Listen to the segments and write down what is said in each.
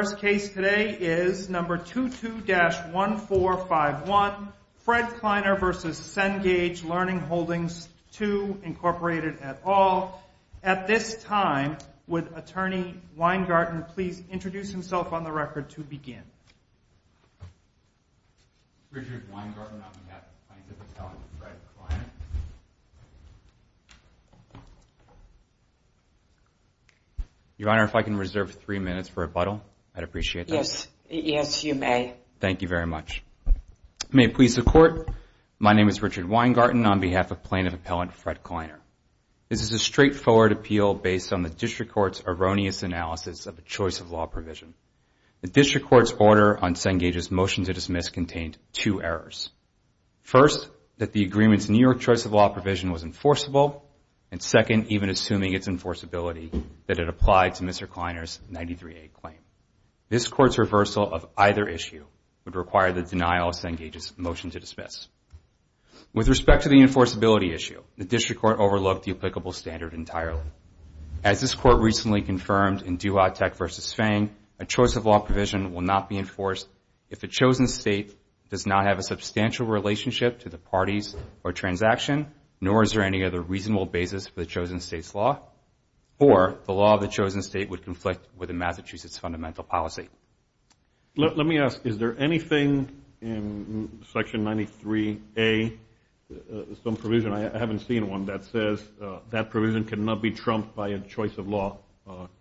is number 22-1451, Fred Kleiner v. Cengage Learning Holdings II, Incorporated, et al. At this time, would Attorney Weingarten please introduce himself on the record to begin? Your Honor, if I can reserve three minutes for rebuttal, I'd appreciate that. Yes, you may. Thank you very much. May it please the Court, my name is Richard Weingarten on behalf of Plaintiff Appellant Fred Kleiner. This is a straightforward appeal based on the District Court's erroneous analysis of a choice of law provision. The District Court's order on Cengage's motion to dismiss contained two errors. First, that the agreement's New York choice of law provision was enforceable, and second, even assuming its enforceability, that it applied to Mr. Kleiner's 93A claim. This Court's reversal of either issue would require the denial of Cengage's motion to dismiss. With respect to the enforceability issue, the District Court overlooked the applicable standard entirely. As this Court recently confirmed in Duvall-Tech v. Fang, a choice of law provision will not be enforced if the chosen state does not have a substantial relationship to the parties or transaction, nor is there any other reasonable basis for the chosen state's law, or the law of the chosen state would conflict with a Massachusetts fundamental policy. Let me ask, is there anything in Section 93A, some provision, I haven't seen one, that says that provision cannot be trumped by a choice of law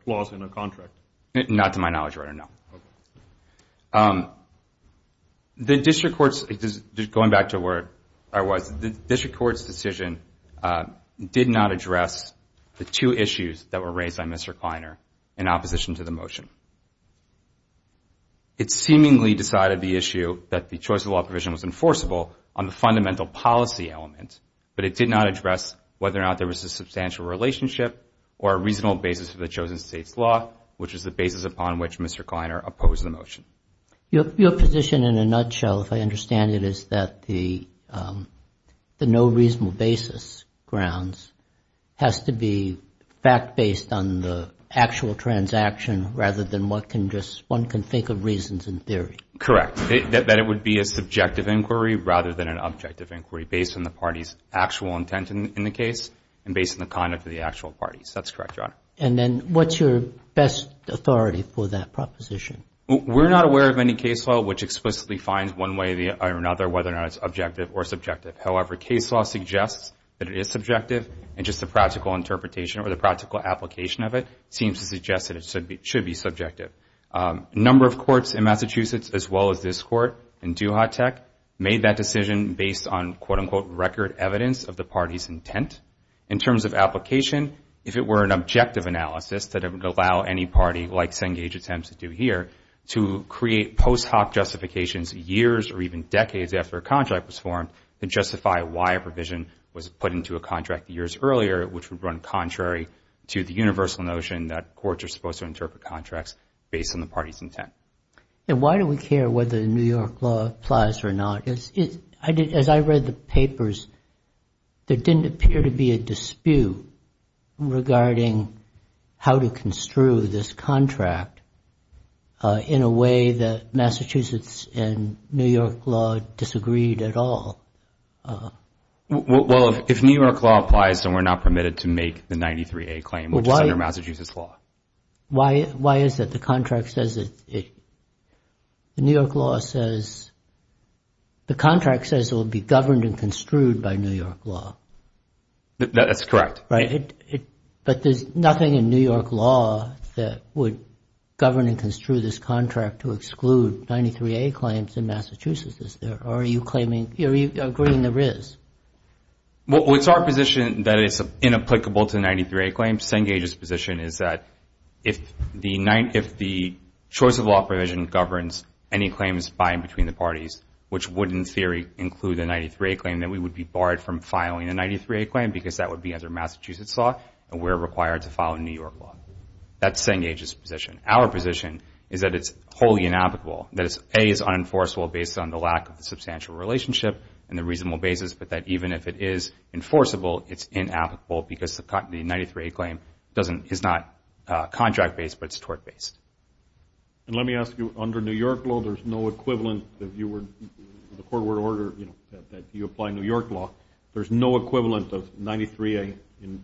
clause in a contract? Not to my knowledge, Your Honor, no. The District Court's, going back to where I was, the District Court's decision did not address the two issues that were raised by Mr. Kleiner in opposition to the motion. It seemingly decided the issue that the choice of law provision was enforceable on the fundamental policy element, but it did not address whether or not there was a substantial relationship or a reasonable basis for the chosen state's law, which is the basis upon which Mr. Kleiner opposed the motion. Your position in a nutshell, if I understand it, is that the no reasonable basis grounds has to be fact-based on the actual transaction, rather than what can just, one can think of reasons in theory. Correct, that it would be a subjective inquiry rather than an objective inquiry, based on the party's actual intent in the case and based on the conduct of the actual parties. That's correct, Your Honor. And then what's your best authority for that proposition? We're not aware of any case law which explicitly finds one way or another whether or not it's objective or subjective. However, case law suggests that it is subjective, and just the practical interpretation or the practical application of it seems to suggest that it should be subjective. A number of courts in Massachusetts, as well as this court in Duhatec, made that decision based on, quote-unquote, record evidence of the party's intent. In terms of application, if it were an objective analysis that would allow any party, like Cengage Attempts to do here, to create post hoc justifications years or even decades after a contract was formed, to justify why a provision was put into a contract years earlier, which would run contrary to the universal notion that courts are supposed to interpret contracts based on the party's intent. And why do we care whether the New York law applies or not? As I read the papers, there didn't appear to be a dispute regarding how to construe this contract in a way that Massachusetts and New York law disagreed at all. Well, if New York law applies, then we're not permitted to make the 93A claim, which is under Massachusetts law. Why is that? The contract says it will be governed and construed by New York law. That's correct. But there's nothing in New York law that would govern and construe this contract to exclude 93A claims in Massachusetts. Are you agreeing there is? Well, it's our position that it's inapplicable to 93A claims. Cengage's position is that if the choice of law provision governs any claims by and between the parties, which would in theory include the 93A claim, then we would be barred from filing a 93A claim because that would be under Massachusetts law and we're required to follow New York law. That's Cengage's position. Our position is that it's wholly inapplicable. That A is unenforceable based on the lack of the substantial relationship and the reasonable basis, but that even if it is enforceable, it's inapplicable because the 93A claim is not contract-based, but it's tort-based. And let me ask you, under New York law, there's no equivalent if you were in the court order, you know, that you apply New York law. There's no equivalent of 93A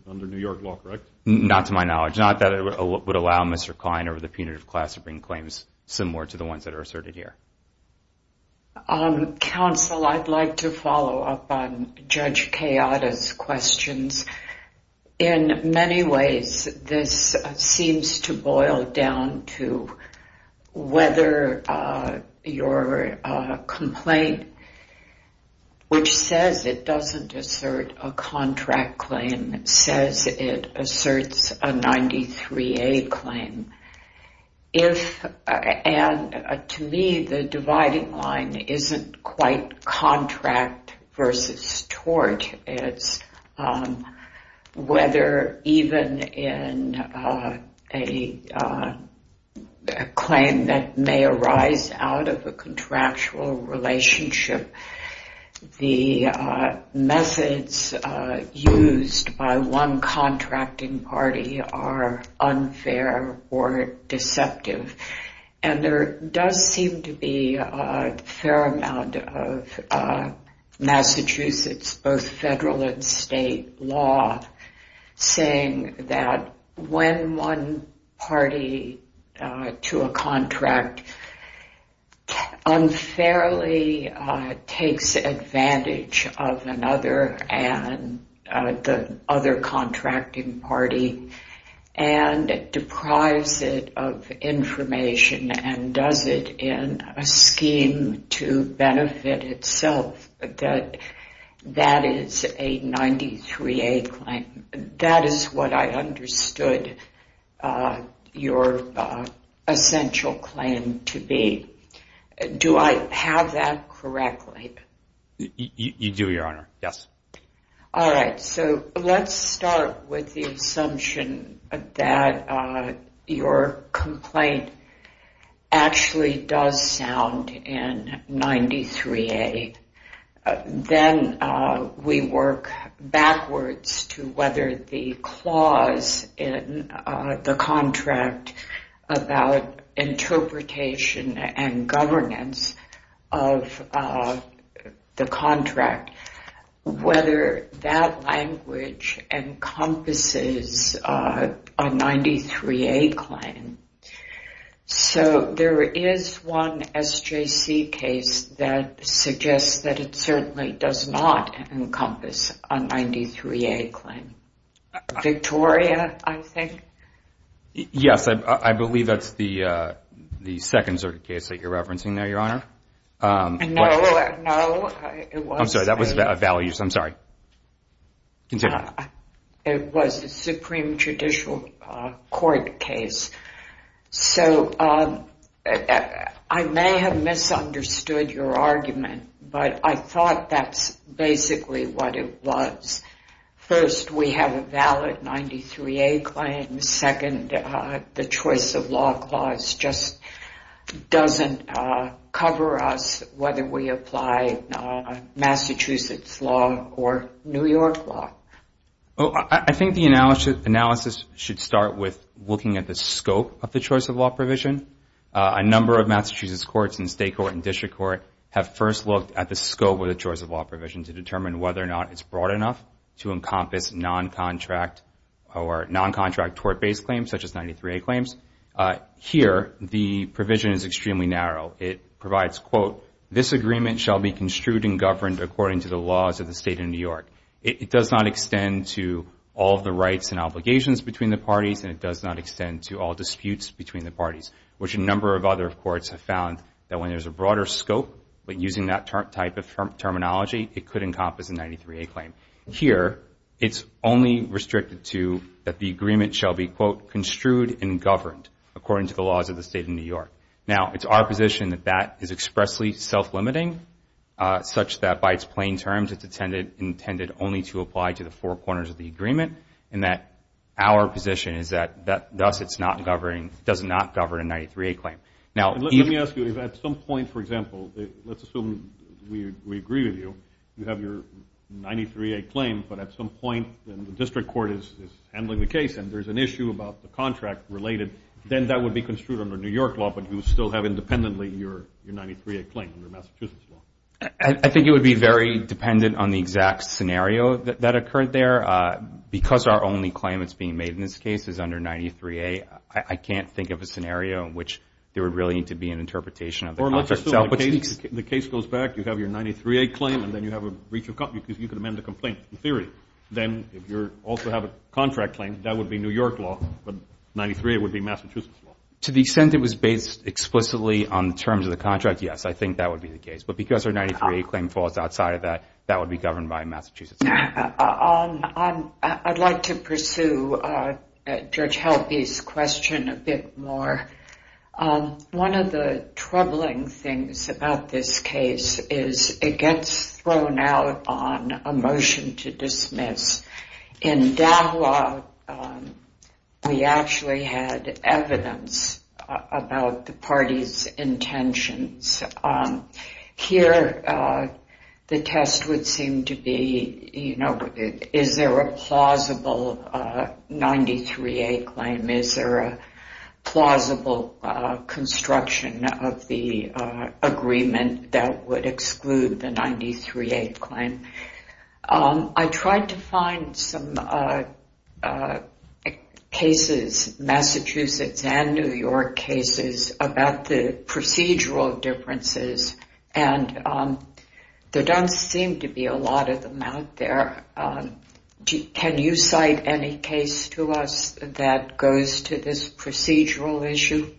under New York law, correct? Not to my knowledge. It's not that it would allow Mr. Klein or the punitive class to bring claims similar to the ones that are asserted here. Counsel, I'd like to follow up on Judge Kayada's questions. In many ways, this seems to boil down to whether your complaint, which says it doesn't assert a contract claim, says it asserts a 93A claim. And to me, the dividing line isn't quite contract versus tort. It's whether even in a claim that may arise out of a contractual relationship, the methods used by one contracting party are unfair or deceptive. And there does seem to be a fair amount of Massachusetts, both federal and state, saying that when one party to a contract unfairly takes advantage of another and the other contracting party and deprives it of information and does it in a scheme to benefit itself, that that is a 93A claim. That is what I understood your essential claim to be. Do I have that correctly? You do, Your Honor, yes. All right. So let's start with the assumption that your complaint actually does sound in 93A. Then we work backwards to whether the clause in the contract about interpretation and governance of the contract, whether that language encompasses a 93A claim. So there is one SJC case that suggests that it certainly does not encompass a 93A claim. Victoria, I think? Yes. I believe that's the second sort of case that you're referencing there, Your Honor. No. I'm sorry. That was a value. I'm sorry. It was a Supreme Judicial Court case. So I may have misunderstood your argument, but I thought that's basically what it was. First, we have a valid 93A claim. Second, the choice of law clause just doesn't cover us whether we apply Massachusetts law or New York law. I think the analysis should start with looking at the scope of the choice of law provision. A number of Massachusetts courts and state court and district court have first looked at the scope of the choice of law provision to determine whether or not it's broad enough to encompass non-contract or non-contract tort-based claims such as 93A claims. Here, the provision is extremely narrow. It provides, quote, this agreement shall be construed and governed according to the laws of the State of New York. It does not extend to all of the rights and obligations between the parties, and it does not extend to all disputes between the parties, which a number of other courts have found that when there's a broader scope, but using that type of terminology, it could encompass a 93A claim. Here, it's only restricted to that the agreement shall be, quote, construed and governed according to the laws of the State of New York. Now, it's our position that that is expressly self-limiting such that by its plain terms, it's intended only to apply to the four corners of the agreement, and that our position is that thus it's not governing, does not govern a 93A claim. Let me ask you, if at some point, for example, let's assume we agree with you, you have your 93A claim, but at some point the district court is handling the case and there's an issue about the contract related, then that would be construed under New York law, but you still have independently your 93A claim under Massachusetts law. I think it would be very dependent on the exact scenario that occurred there. Because our only claim that's being made in this case is under 93A, I can't think of a scenario in which there would really need to be an interpretation of the contract. Or let's assume the case goes back, you have your 93A claim, and then you have a breach of contract because you can amend the complaint in theory. Then if you also have a contract claim, that would be New York law, but 93A would be Massachusetts law. To the extent it was based explicitly on terms of the contract, yes, I think that would be the case. But because our 93A claim falls outside of that, that would be governed by Massachusetts law. I'd like to pursue Judge Helpe's question a bit more. One of the troubling things about this case is it gets thrown out on a motion to dismiss. In DAWA, we actually had evidence about the party's intentions. Here, the test would seem to be, is there a plausible 93A claim? Is there a plausible construction of the agreement that would exclude the 93A claim? I tried to find some cases, Massachusetts and New York cases, about the procedural differences, and there don't seem to be a lot of them out there. Can you cite any case to us that goes to this procedural issue?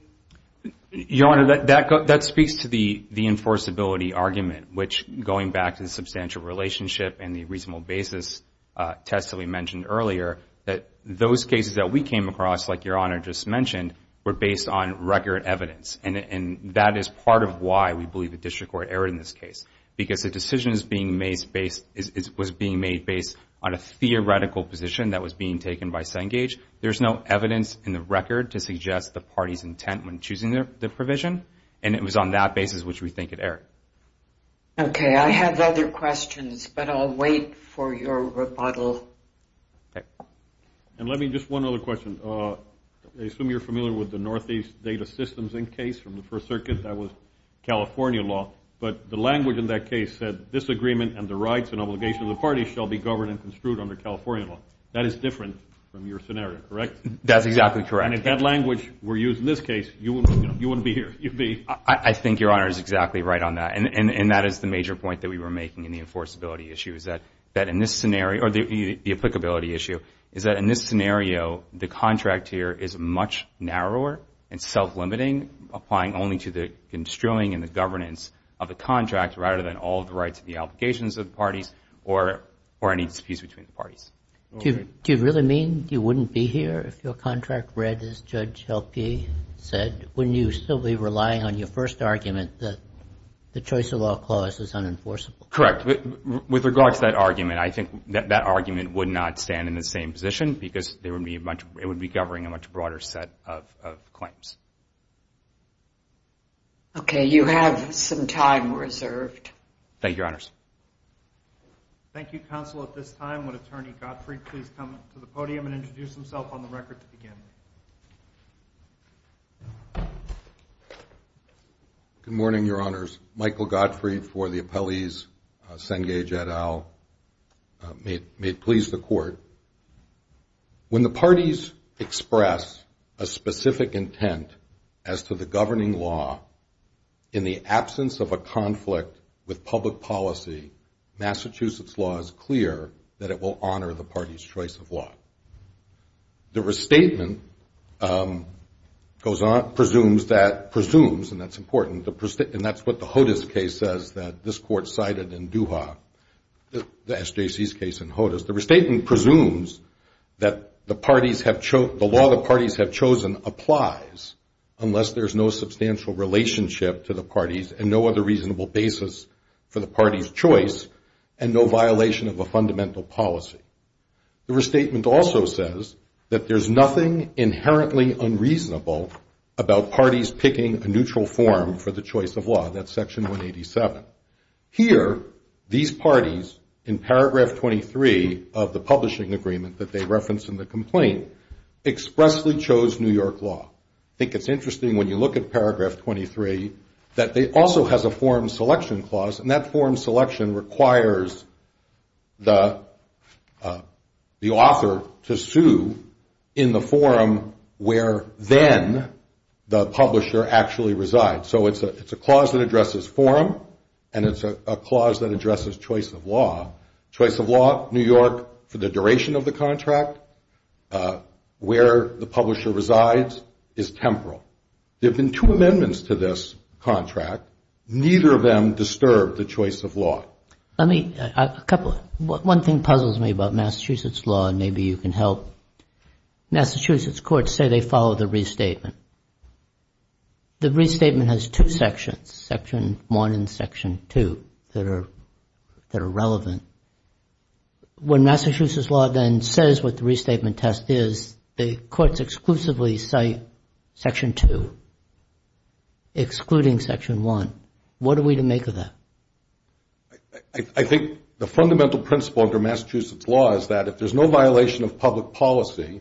Your Honor, that speaks to the enforceability argument, which going back to the substantial relationship and the reasonable basis test that we mentioned earlier, that those cases that we came across, like Your Honor just mentioned, were based on record evidence. That is part of why we believe the district court erred in this case, because the decision was being made based on a theoretical position that was being taken by Cengage. There's no evidence in the record to suggest the party's intent when choosing the provision, and it was on that basis which we think it erred. Okay, I have other questions, but I'll wait for your rebuttal. And let me, just one other question. I assume you're familiar with the Northeast Data Systems Inc. case from the First Circuit. That was California law, but the language in that case said, this agreement and the rights and obligations of the party shall be governed and construed under California law. That is different from your scenario, correct? That's exactly correct. And if that language were used in this case, you wouldn't be here. I think Your Honor is exactly right on that, and that is the major point that we were making in the enforceability issue, is that in this scenario, or the applicability issue, is that in this scenario, the contract here is much narrower and self-limiting, applying only to the construing and the governance of the contract, rather than all of the rights and the obligations of the parties or any disputes between the parties. Do you really mean you wouldn't be here if your contract read, as Judge Helke said, wouldn't you still be relying on your first argument that the choice of law clause is unenforceable? Correct. With regard to that argument, I think that argument would not stand in the same position Okay, you have some time reserved. Thank you, Your Honors. Thank you, Counsel. At this time, would Attorney Gottfried please come to the podium and introduce himself on the record to begin? Good morning, Your Honors. Michael Gottfried for the appellees, Cengage et al. May it please the Court. When the parties express a specific intent as to the governing law, in the absence of a conflict with public policy, Massachusetts law is clear that it will honor the party's choice of law. The restatement goes on, presumes that, presumes, and that's important, and that's what the Hodes case says that this Court cited in Duha, the SJC's case in Hodes. The restatement presumes that the law the parties have chosen applies unless there's no substantial relationship to the parties and no other reasonable basis for the party's choice and no violation of a fundamental policy. The restatement also says that there's nothing inherently unreasonable about parties picking a neutral form for the choice of law. That's Section 187. Here, these parties, in Paragraph 23 of the publishing agreement that they referenced in the complaint, expressly chose New York law. I think it's interesting when you look at Paragraph 23 that it also has a form selection clause, and that form selection requires the author to sue in the forum where then the publisher actually resides. So it's a clause that addresses forum, and it's a clause that addresses choice of law. Choice of law, New York, for the duration of the contract, where the publisher resides, is temporal. There have been two amendments to this contract. Neither of them disturbed the choice of law. Let me, a couple, one thing puzzles me about Massachusetts law, and maybe you can help. Massachusetts courts say they follow the restatement. The restatement has two sections, Section 1 and Section 2, that are relevant. When Massachusetts law then says what the restatement test is, the courts exclusively cite Section 2, excluding Section 1. What are we to make of that? I think the fundamental principle under Massachusetts law is that if there's no violation of public policy,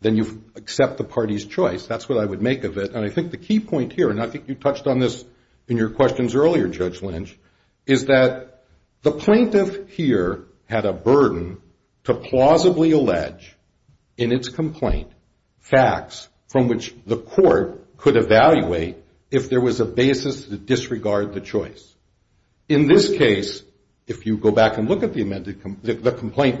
then you accept the party's choice. That's what I would make of it, and I think the key point here, and I think you touched on this in your questions earlier, Judge Lynch, is that the plaintiff here had a burden to plausibly allege in its complaint facts from which the court could evaluate if there was a basis to disregard the choice. In this case, if you go back and look at the complaint,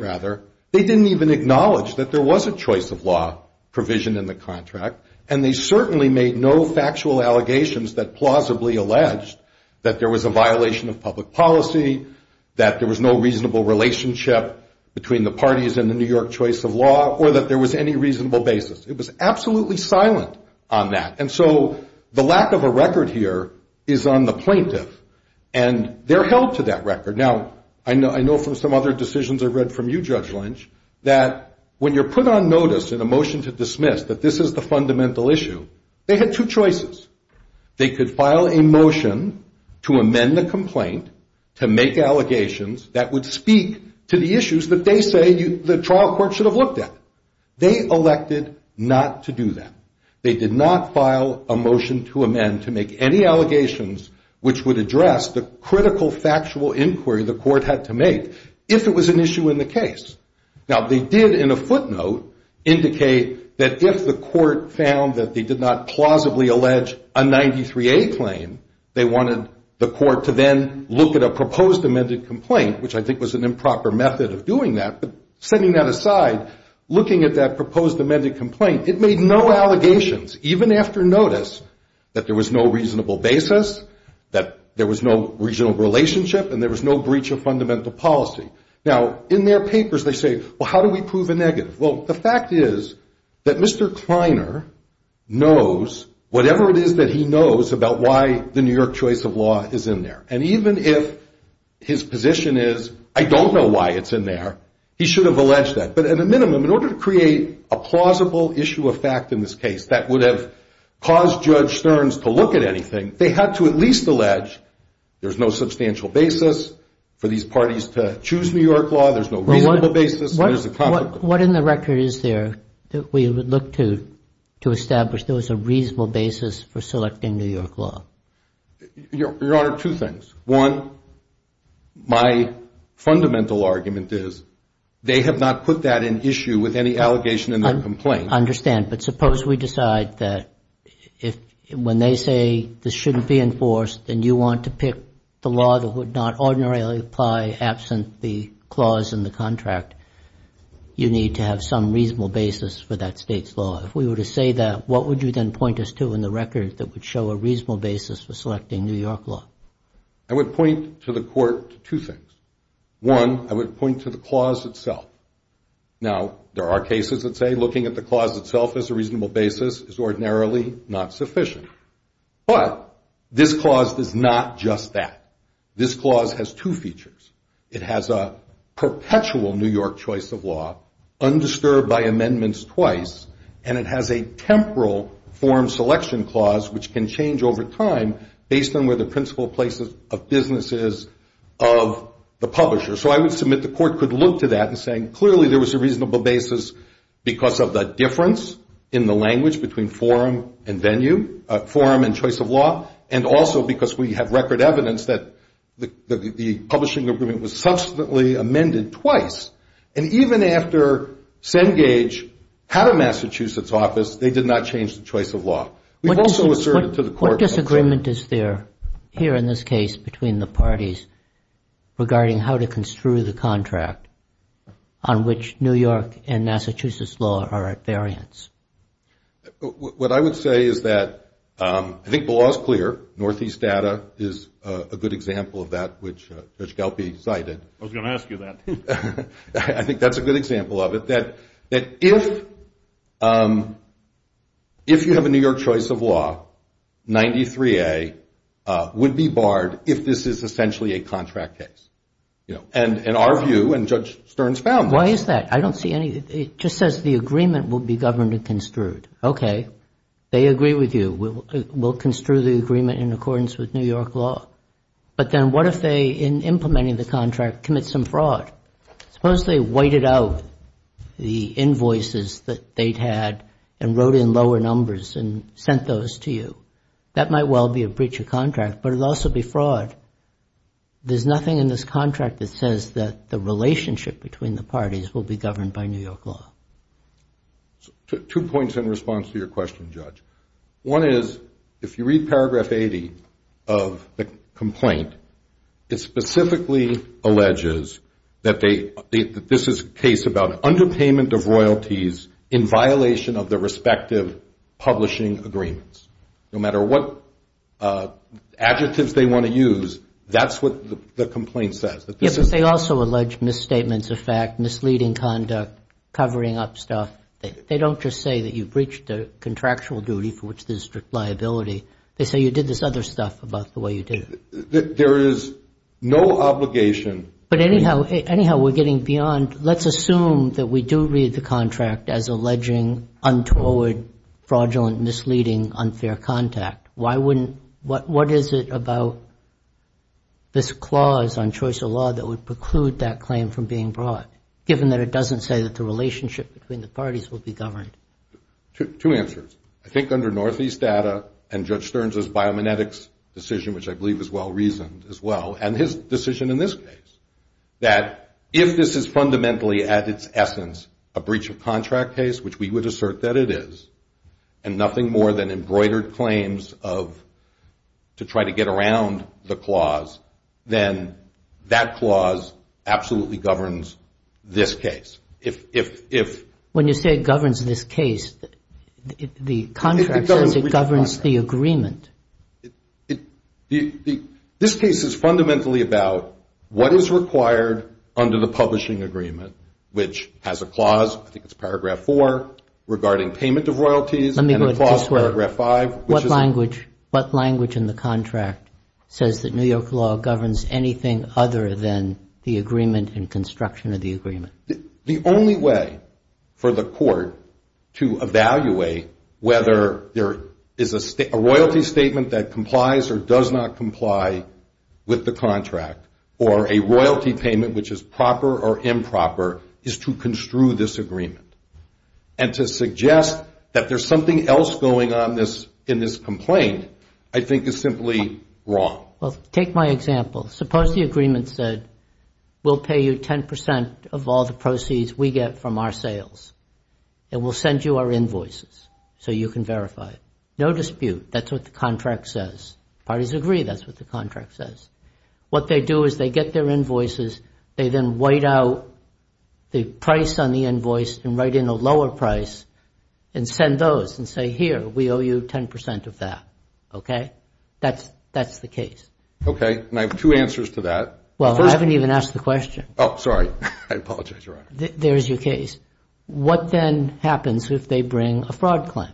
they didn't even acknowledge that there was a choice of law provision in the contract, and they certainly made no factual allegations that plausibly alleged that there was a violation of public policy, that there was no reasonable relationship between the parties in the New York choice of law, or that there was any reasonable basis. It was absolutely silent on that, and so the lack of a record here is on the plaintiff, and they're held to that record. Now, I know from some other decisions I've read from you, Judge Lynch, that when you're put on notice in a motion to dismiss that this is the fundamental issue, they had two choices. They could file a motion to amend the complaint to make allegations that would speak to the issues that they say the trial court should have looked at. They elected not to do that. They did not file a motion to amend to make any allegations which would address the critical factual inquiry the court had to make if it was an issue in the case. Now, they did in a footnote indicate that if the court found that they did not plausibly allege a 93A claim, they wanted the court to then look at a proposed amended complaint, which I think was an improper method of doing that, but setting that aside, looking at that proposed amended complaint, it made no allegations, even after notice, that there was no reasonable basis, that there was no regional relationship, and there was no breach of fundamental policy. Now, in their papers they say, well, how do we prove a negative? Well, the fact is that Mr. Kleiner knows whatever it is that he knows about why the New York choice of law is in there, and even if his position is, I don't know why it's in there, he should have alleged that. But at a minimum, in order to create a plausible issue of fact in this case that would have caused Judge Stearns to look at anything, they had to at least allege there's no substantial basis for these parties to choose New York law, there's no reasonable basis, and there's a conflict. What in the record is there that we would look to to establish there was a reasonable basis for selecting New York law? Your Honor, two things. One, my fundamental argument is they have not put that in issue with any allegation in their complaint. I understand, but suppose we decide that when they say this shouldn't be enforced and you want to pick the law that would not ordinarily apply absent the clause in the contract, you need to have some reasonable basis for that State's law. If we were to say that, what would you then point us to in the record that would show a reasonable basis for selecting New York law? I would point to the court two things. One, I would point to the clause itself. Now, there are cases that say looking at the clause itself as a reasonable basis is ordinarily not sufficient. But this clause is not just that. This clause has two features. It has a perpetual New York choice of law, undisturbed by amendments twice, and it has a temporal form selection clause which can change over time based on where the principal place of business is of the publisher. So I would submit the court could look to that and say clearly there was a reasonable basis because of the difference in the language between forum and venue, forum and choice of law, and also because we have record evidence that the publishing agreement was subsequently amended twice. And even after Cengage had a Massachusetts office, they did not change the choice of law. We've also asserted to the court. What disagreement is there here in this case between the parties regarding how to construe the contract on which New York and Massachusetts law are at variance? What I would say is that I think the law is clear. Northeast data is a good example of that, which Judge Galpe cited. I was going to ask you that. I think that's a good example of it, that if you have a New York choice of law, 93A would be barred if this is essentially a contract case. And in our view, and Judge Stern's found that. Why is that? It just says the agreement will be governed and construed. Okay. They agree with you. We'll construe the agreement in accordance with New York law. But then what if they, in implementing the contract, commit some fraud? Suppose they whited out the invoices that they'd had and wrote in lower numbers and sent those to you. That might well be a breach of contract, but it would also be fraud. There's nothing in this contract that says that the relationship between the parties will be governed by New York law. Two points in response to your question, Judge. One is, if you read paragraph 80 of the complaint, it specifically alleges that this is a case about underpayment of royalties in violation of the respective publishing agreements. No matter what adjectives they want to use, that's what the complaint says. Yes, but they also allege misstatements of fact, misleading conduct, covering up stuff. They don't just say that you breached a contractual duty for which there's strict liability. They say you did this other stuff about the way you did it. There is no obligation. But anyhow, we're getting beyond. Let's assume that we do read the contract as alleging untoward, fraudulent, misleading, unfair contact. What is it about this clause on choice of law that would preclude that claim from being brought, given that it doesn't say that the relationship between the parties will be governed? Two answers. I think under Northeast data and Judge Stern's biomechanics decision, which I believe is well reasoned as well, and his decision in this case, that if this is fundamentally at its essence a breach of contract case, which we would assert that it is, and nothing more than embroidered claims of to try to get around the clause, then that clause absolutely governs this case. When you say it governs this case, the contract says it governs the agreement. This case is fundamentally about what is required under the publishing agreement, which has a clause, I think it's Paragraph 4, regarding payment of royalties. Let me go this way. And a clause, Paragraph 5. What language in the contract says that New York law governs anything other than the agreement and construction of the agreement? The only way for the court to evaluate whether there is a royalty statement that complies or does not comply with the contract, or a royalty payment which is proper or improper, is to construe this agreement. And to suggest that there's something else going on in this complaint, I think, is simply wrong. Well, take my example. Suppose the agreement said, we'll pay you 10% of all the proceeds we get from our sales, and we'll send you our invoices so you can verify. No dispute. That's what the contract says. Parties agree that's what the contract says. What they do is they get their invoices. They then white out the price on the invoice and write in a lower price and send those and say, here, we owe you 10% of that. Okay? That's the case. Okay. And I have two answers to that. Well, I haven't even asked the question. Oh, sorry. I apologize, Your Honor. There's your case. What then happens if they bring a fraud claim?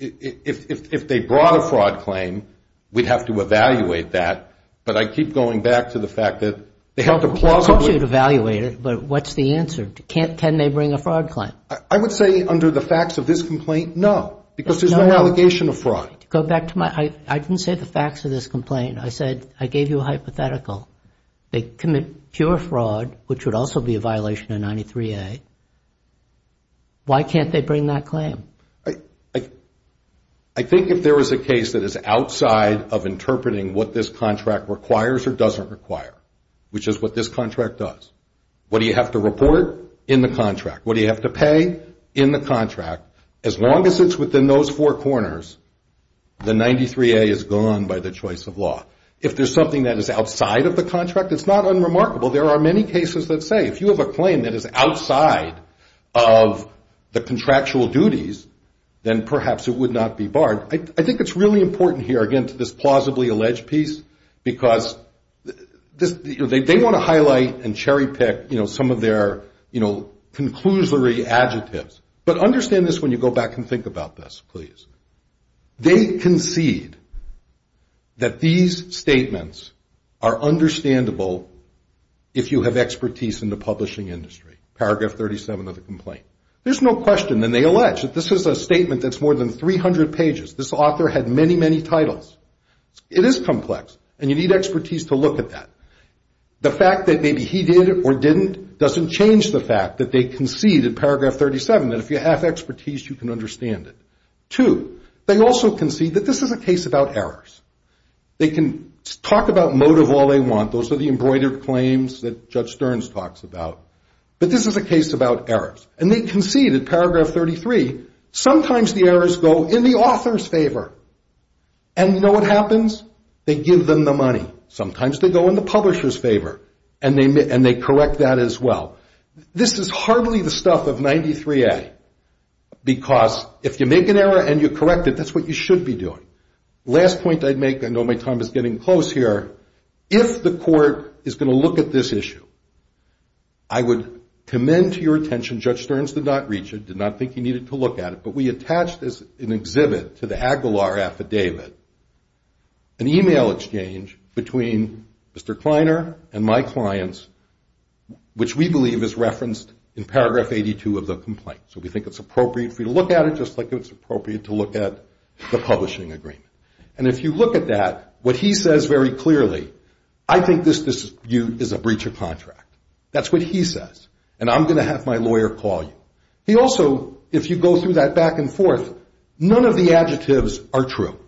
If they brought a fraud claim, we'd have to evaluate that. But I keep going back to the fact that they have to plausibly – I told you to evaluate it, but what's the answer? Can they bring a fraud claim? I would say under the facts of this complaint, no, because there's no allegation of fraud. Go back to my – I didn't say the facts of this complaint. I said I gave you a hypothetical. They commit pure fraud, which would also be a violation of 93A. Why can't they bring that claim? I think if there was a case that is outside of interpreting what this contract requires or doesn't require, which is what this contract does, what do you have to report? In the contract. What do you have to pay? In the contract. As long as it's within those four corners, the 93A is gone by the choice of law. If there's something that is outside of the contract, it's not unremarkable. There are many cases that say if you have a claim that is outside of the contractual duties, then perhaps it would not be barred. I think it's really important here, again, to this plausibly alleged piece, because they want to highlight and cherry-pick some of their conclusory adjectives. But understand this when you go back and think about this, please. They concede that these statements are understandable if you have expertise in the publishing industry. Paragraph 37 of the complaint. There's no question, and they allege that this is a statement that's more than 300 pages. This author had many, many titles. It is complex, and you need expertise to look at that. The fact that maybe he did or didn't doesn't change the fact that they concede in paragraph 37 that if you have expertise, you can understand it. Two, they also concede that this is a case about errors. They can talk about motive all they want. Those are the embroidered claims that Judge Stearns talks about. But this is a case about errors. And they concede in paragraph 33, sometimes the errors go in the author's favor. And you know what happens? They give them the money. Sometimes they go in the publisher's favor, and they correct that as well. This is hardly the stuff of 93A, because if you make an error and you correct it, that's what you should be doing. Last point I'd make, I know my time is getting close here. If the court is going to look at this issue, I would commend to your attention, Judge Stearns did not reach it, did not think he needed to look at it, but we attached as an exhibit to the Aguilar affidavit an email exchange between Mr. Kleiner and my clients, which we believe is referenced in paragraph 82 of the complaint. So we think it's appropriate for you to look at it just like it's appropriate to look at the publishing agreement. And if you look at that, what he says very clearly, I think this dispute is a breach of contract. That's what he says. And I'm going to have my lawyer call you. He also, if you go through that back and forth, none of the adjectives are true.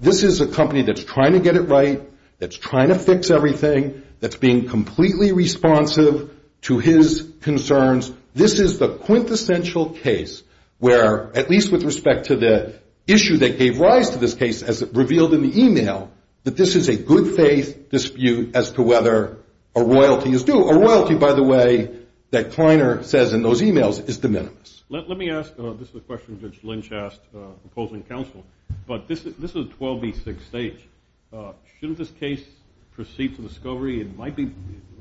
This is a company that's trying to get it right, that's trying to fix everything, that's being completely responsive to his concerns. This is the quintessential case where, at least with respect to the issue that gave rise to this case, as it revealed in the email, that this is a good faith dispute as to whether a royalty is due. A royalty, by the way, that Kleiner says in those emails is de minimis. Let me ask, this is a question Judge Lynch asked opposing counsel, but this is a 12B6 stage. Shouldn't this case proceed to discovery? It might be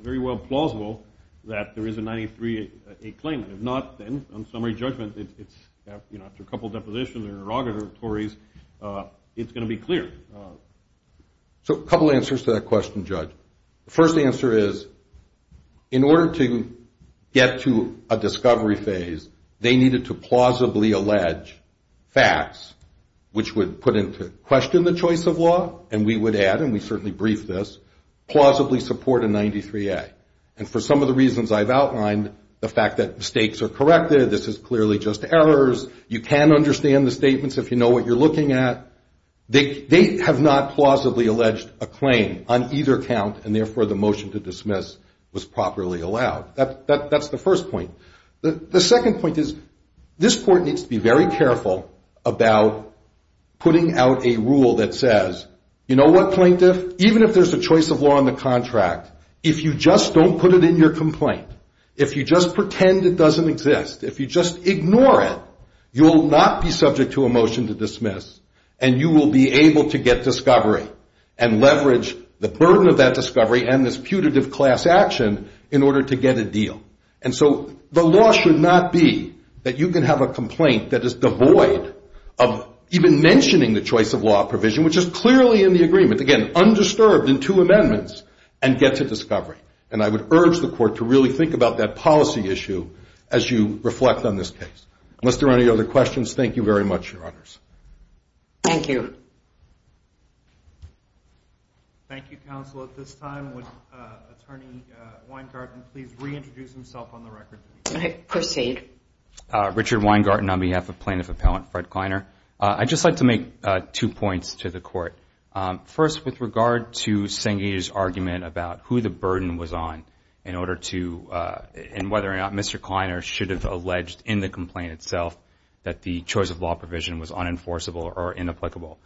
very well plausible that there is a 93A claim. If not, then on summary judgment, it's after a couple of depositions or interrogatories, it's going to be clear. So a couple of answers to that question, Judge. First answer is, in order to get to a discovery phase, they needed to plausibly allege facts, which would put into question the choice of law, and we would add, and we certainly briefed this, plausibly support a 93A. And for some of the reasons I've outlined, the fact that mistakes are corrected, this is clearly just errors, you can understand the statements if you know what you're looking at. They have not plausibly alleged a claim on either count, and therefore the motion to dismiss was properly allowed. That's the first point. The second point is, this court needs to be very careful about putting out a rule that says, you know what, plaintiff, even if there's a choice of law in the contract, if you just don't put it in your complaint, if you just pretend it doesn't exist, if you just ignore it, you'll not be subject to a motion to dismiss, and you will be able to get discovery and leverage the burden of that discovery and this putative class action in order to get a deal. And so the law should not be that you can have a complaint that is devoid of even mentioning the choice of law provision, which is clearly in the agreement, again, undisturbed in two amendments, and get to discovery. And I would urge the court to really think about that policy issue as you reflect on this case. Unless there are any other questions, thank you very much, Your Honors. Thank you. Thank you, counsel. At this time, would Attorney Weingarten please reintroduce himself on the record? I proceed. Richard Weingarten on behalf of Plaintiff Appellant Fred Kleiner. I'd just like to make two points to the court. First, with regard to Senge's argument about who the burden was on in order to and whether or not Mr. Kleiner should have alleged in the complaint itself that the choice of law provision was unenforceable or inapplicable,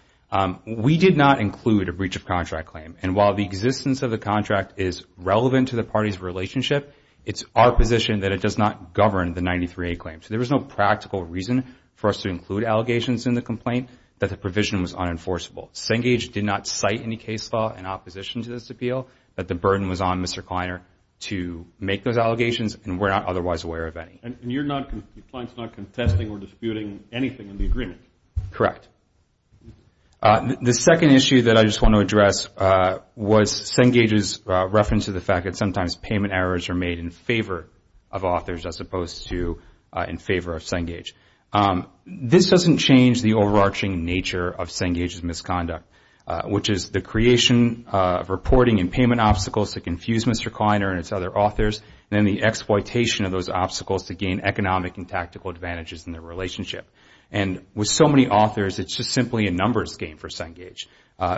we did not include a breach of contract claim. And while the existence of the contract is relevant to the parties' relationship, it's our position that it does not govern the 93A claim. So there was no practical reason for us to include allegations in the complaint that the provision was unenforceable. Senge did not cite any case law in opposition to this appeal that the burden was on Mr. Kleiner to make those allegations, and we're not otherwise aware of any. And your client is not contesting or disputing anything in the agreement? Correct. The second issue that I just want to address was Senge's reference to the fact that sometimes payment errors are made in favor of authors as opposed to in favor of Senge. This doesn't change the overarching nature of Senge's misconduct, which is the creation of reporting and payment obstacles that confuse Mr. Kleiner and its other authors, and then the exploitation of those obstacles to gain economic and tactical advantages in their relationship. And with so many authors, it's just simply a numbers game for Senge.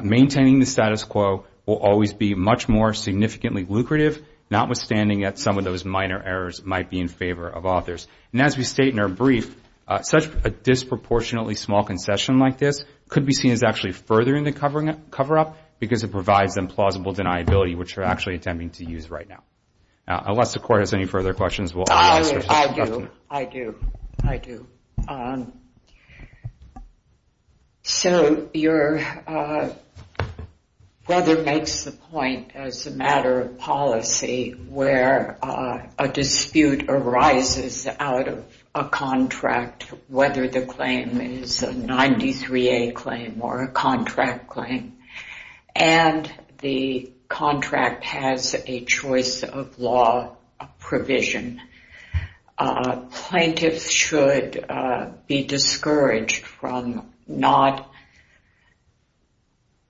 Maintaining the status quo will always be much more significantly lucrative, notwithstanding that some of those minor errors might be in favor of authors. And as we state in our brief, such a disproportionately small concession like this could be seen as actually furthering the cover-up because it provides implausible deniability, which we're actually attempting to use right now. Unless the Court has any further questions, we'll answer. I do, I do, I do. So your brother makes the point as a matter of policy where a dispute arises out of a contract, whether the claim is a 93A claim or a contract claim, and the contract has a choice of law provision. Plaintiffs should be discouraged from not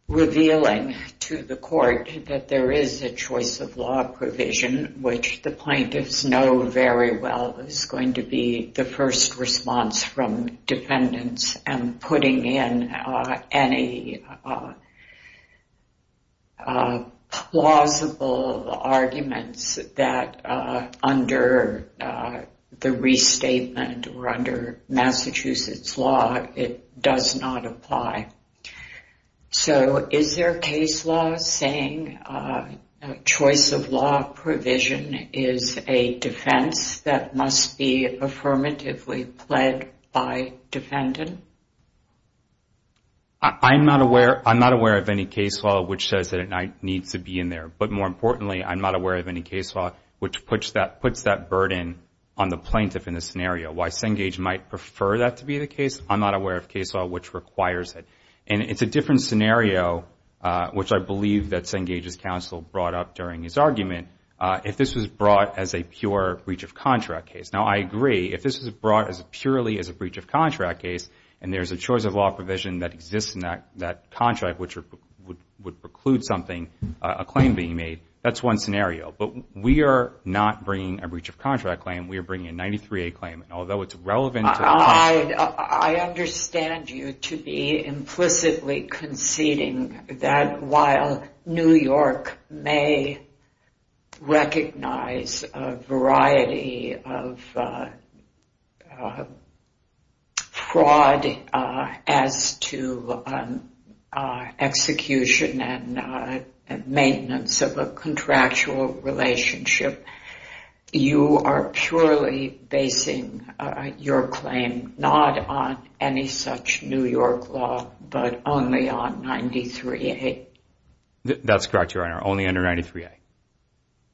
revealing to the Court that there is a choice of law provision, which the plaintiffs know very well is going to be the first response from defendants and putting in any plausible arguments that under the restatement or under Massachusetts law, it does not apply. So is there a case law saying choice of law provision is a defense that must be affirmatively pled by defendant? I'm not aware of any case law which says that it needs to be in there. But more importantly, I'm not aware of any case law which puts that burden on the plaintiff in this scenario. While Cengage might prefer that to be the case, I'm not aware of case law which requires it. And it's a different scenario, which I believe that Cengage's counsel brought up during his argument, if this was brought as a pure breach of contract case. Now, I agree, if this was brought purely as a breach of contract case, and there's a choice of law provision that exists in that contract, which would preclude something, a claim being made, that's one scenario. But we are not bringing a breach of contract claim. We are bringing a 93A claim. I understand you to be implicitly conceding that while New York may recognize a variety of cases, a variety of fraud as to execution and maintenance of a contractual relationship, you are purely basing your claim not on any such New York law, but only on 93A? That's correct, Your Honor, only under 93A.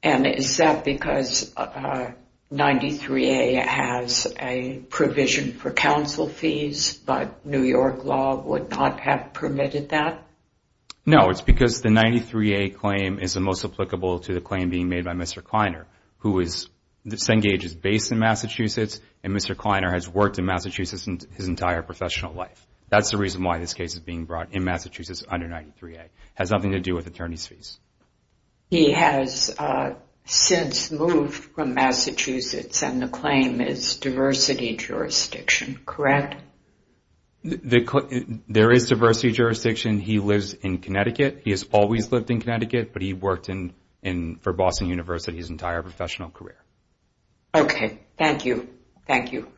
And is that because 93A has a provision for counsel fees, but New York law would not have permitted that? No, it's because the 93A claim is the most applicable to the claim being made by Mr. Kleiner, who is, Cengage is based in Massachusetts, and Mr. Kleiner has worked in Massachusetts his entire professional life. That's the reason why this case is being brought in Massachusetts under 93A. It has nothing to do with attorney's fees. He has since moved from Massachusetts, and the claim is diversity jurisdiction, correct? There is diversity jurisdiction. He lives in Connecticut. He has always lived in Connecticut, but he worked for Boston University his entire professional career. Okay. Thank you. Thank you.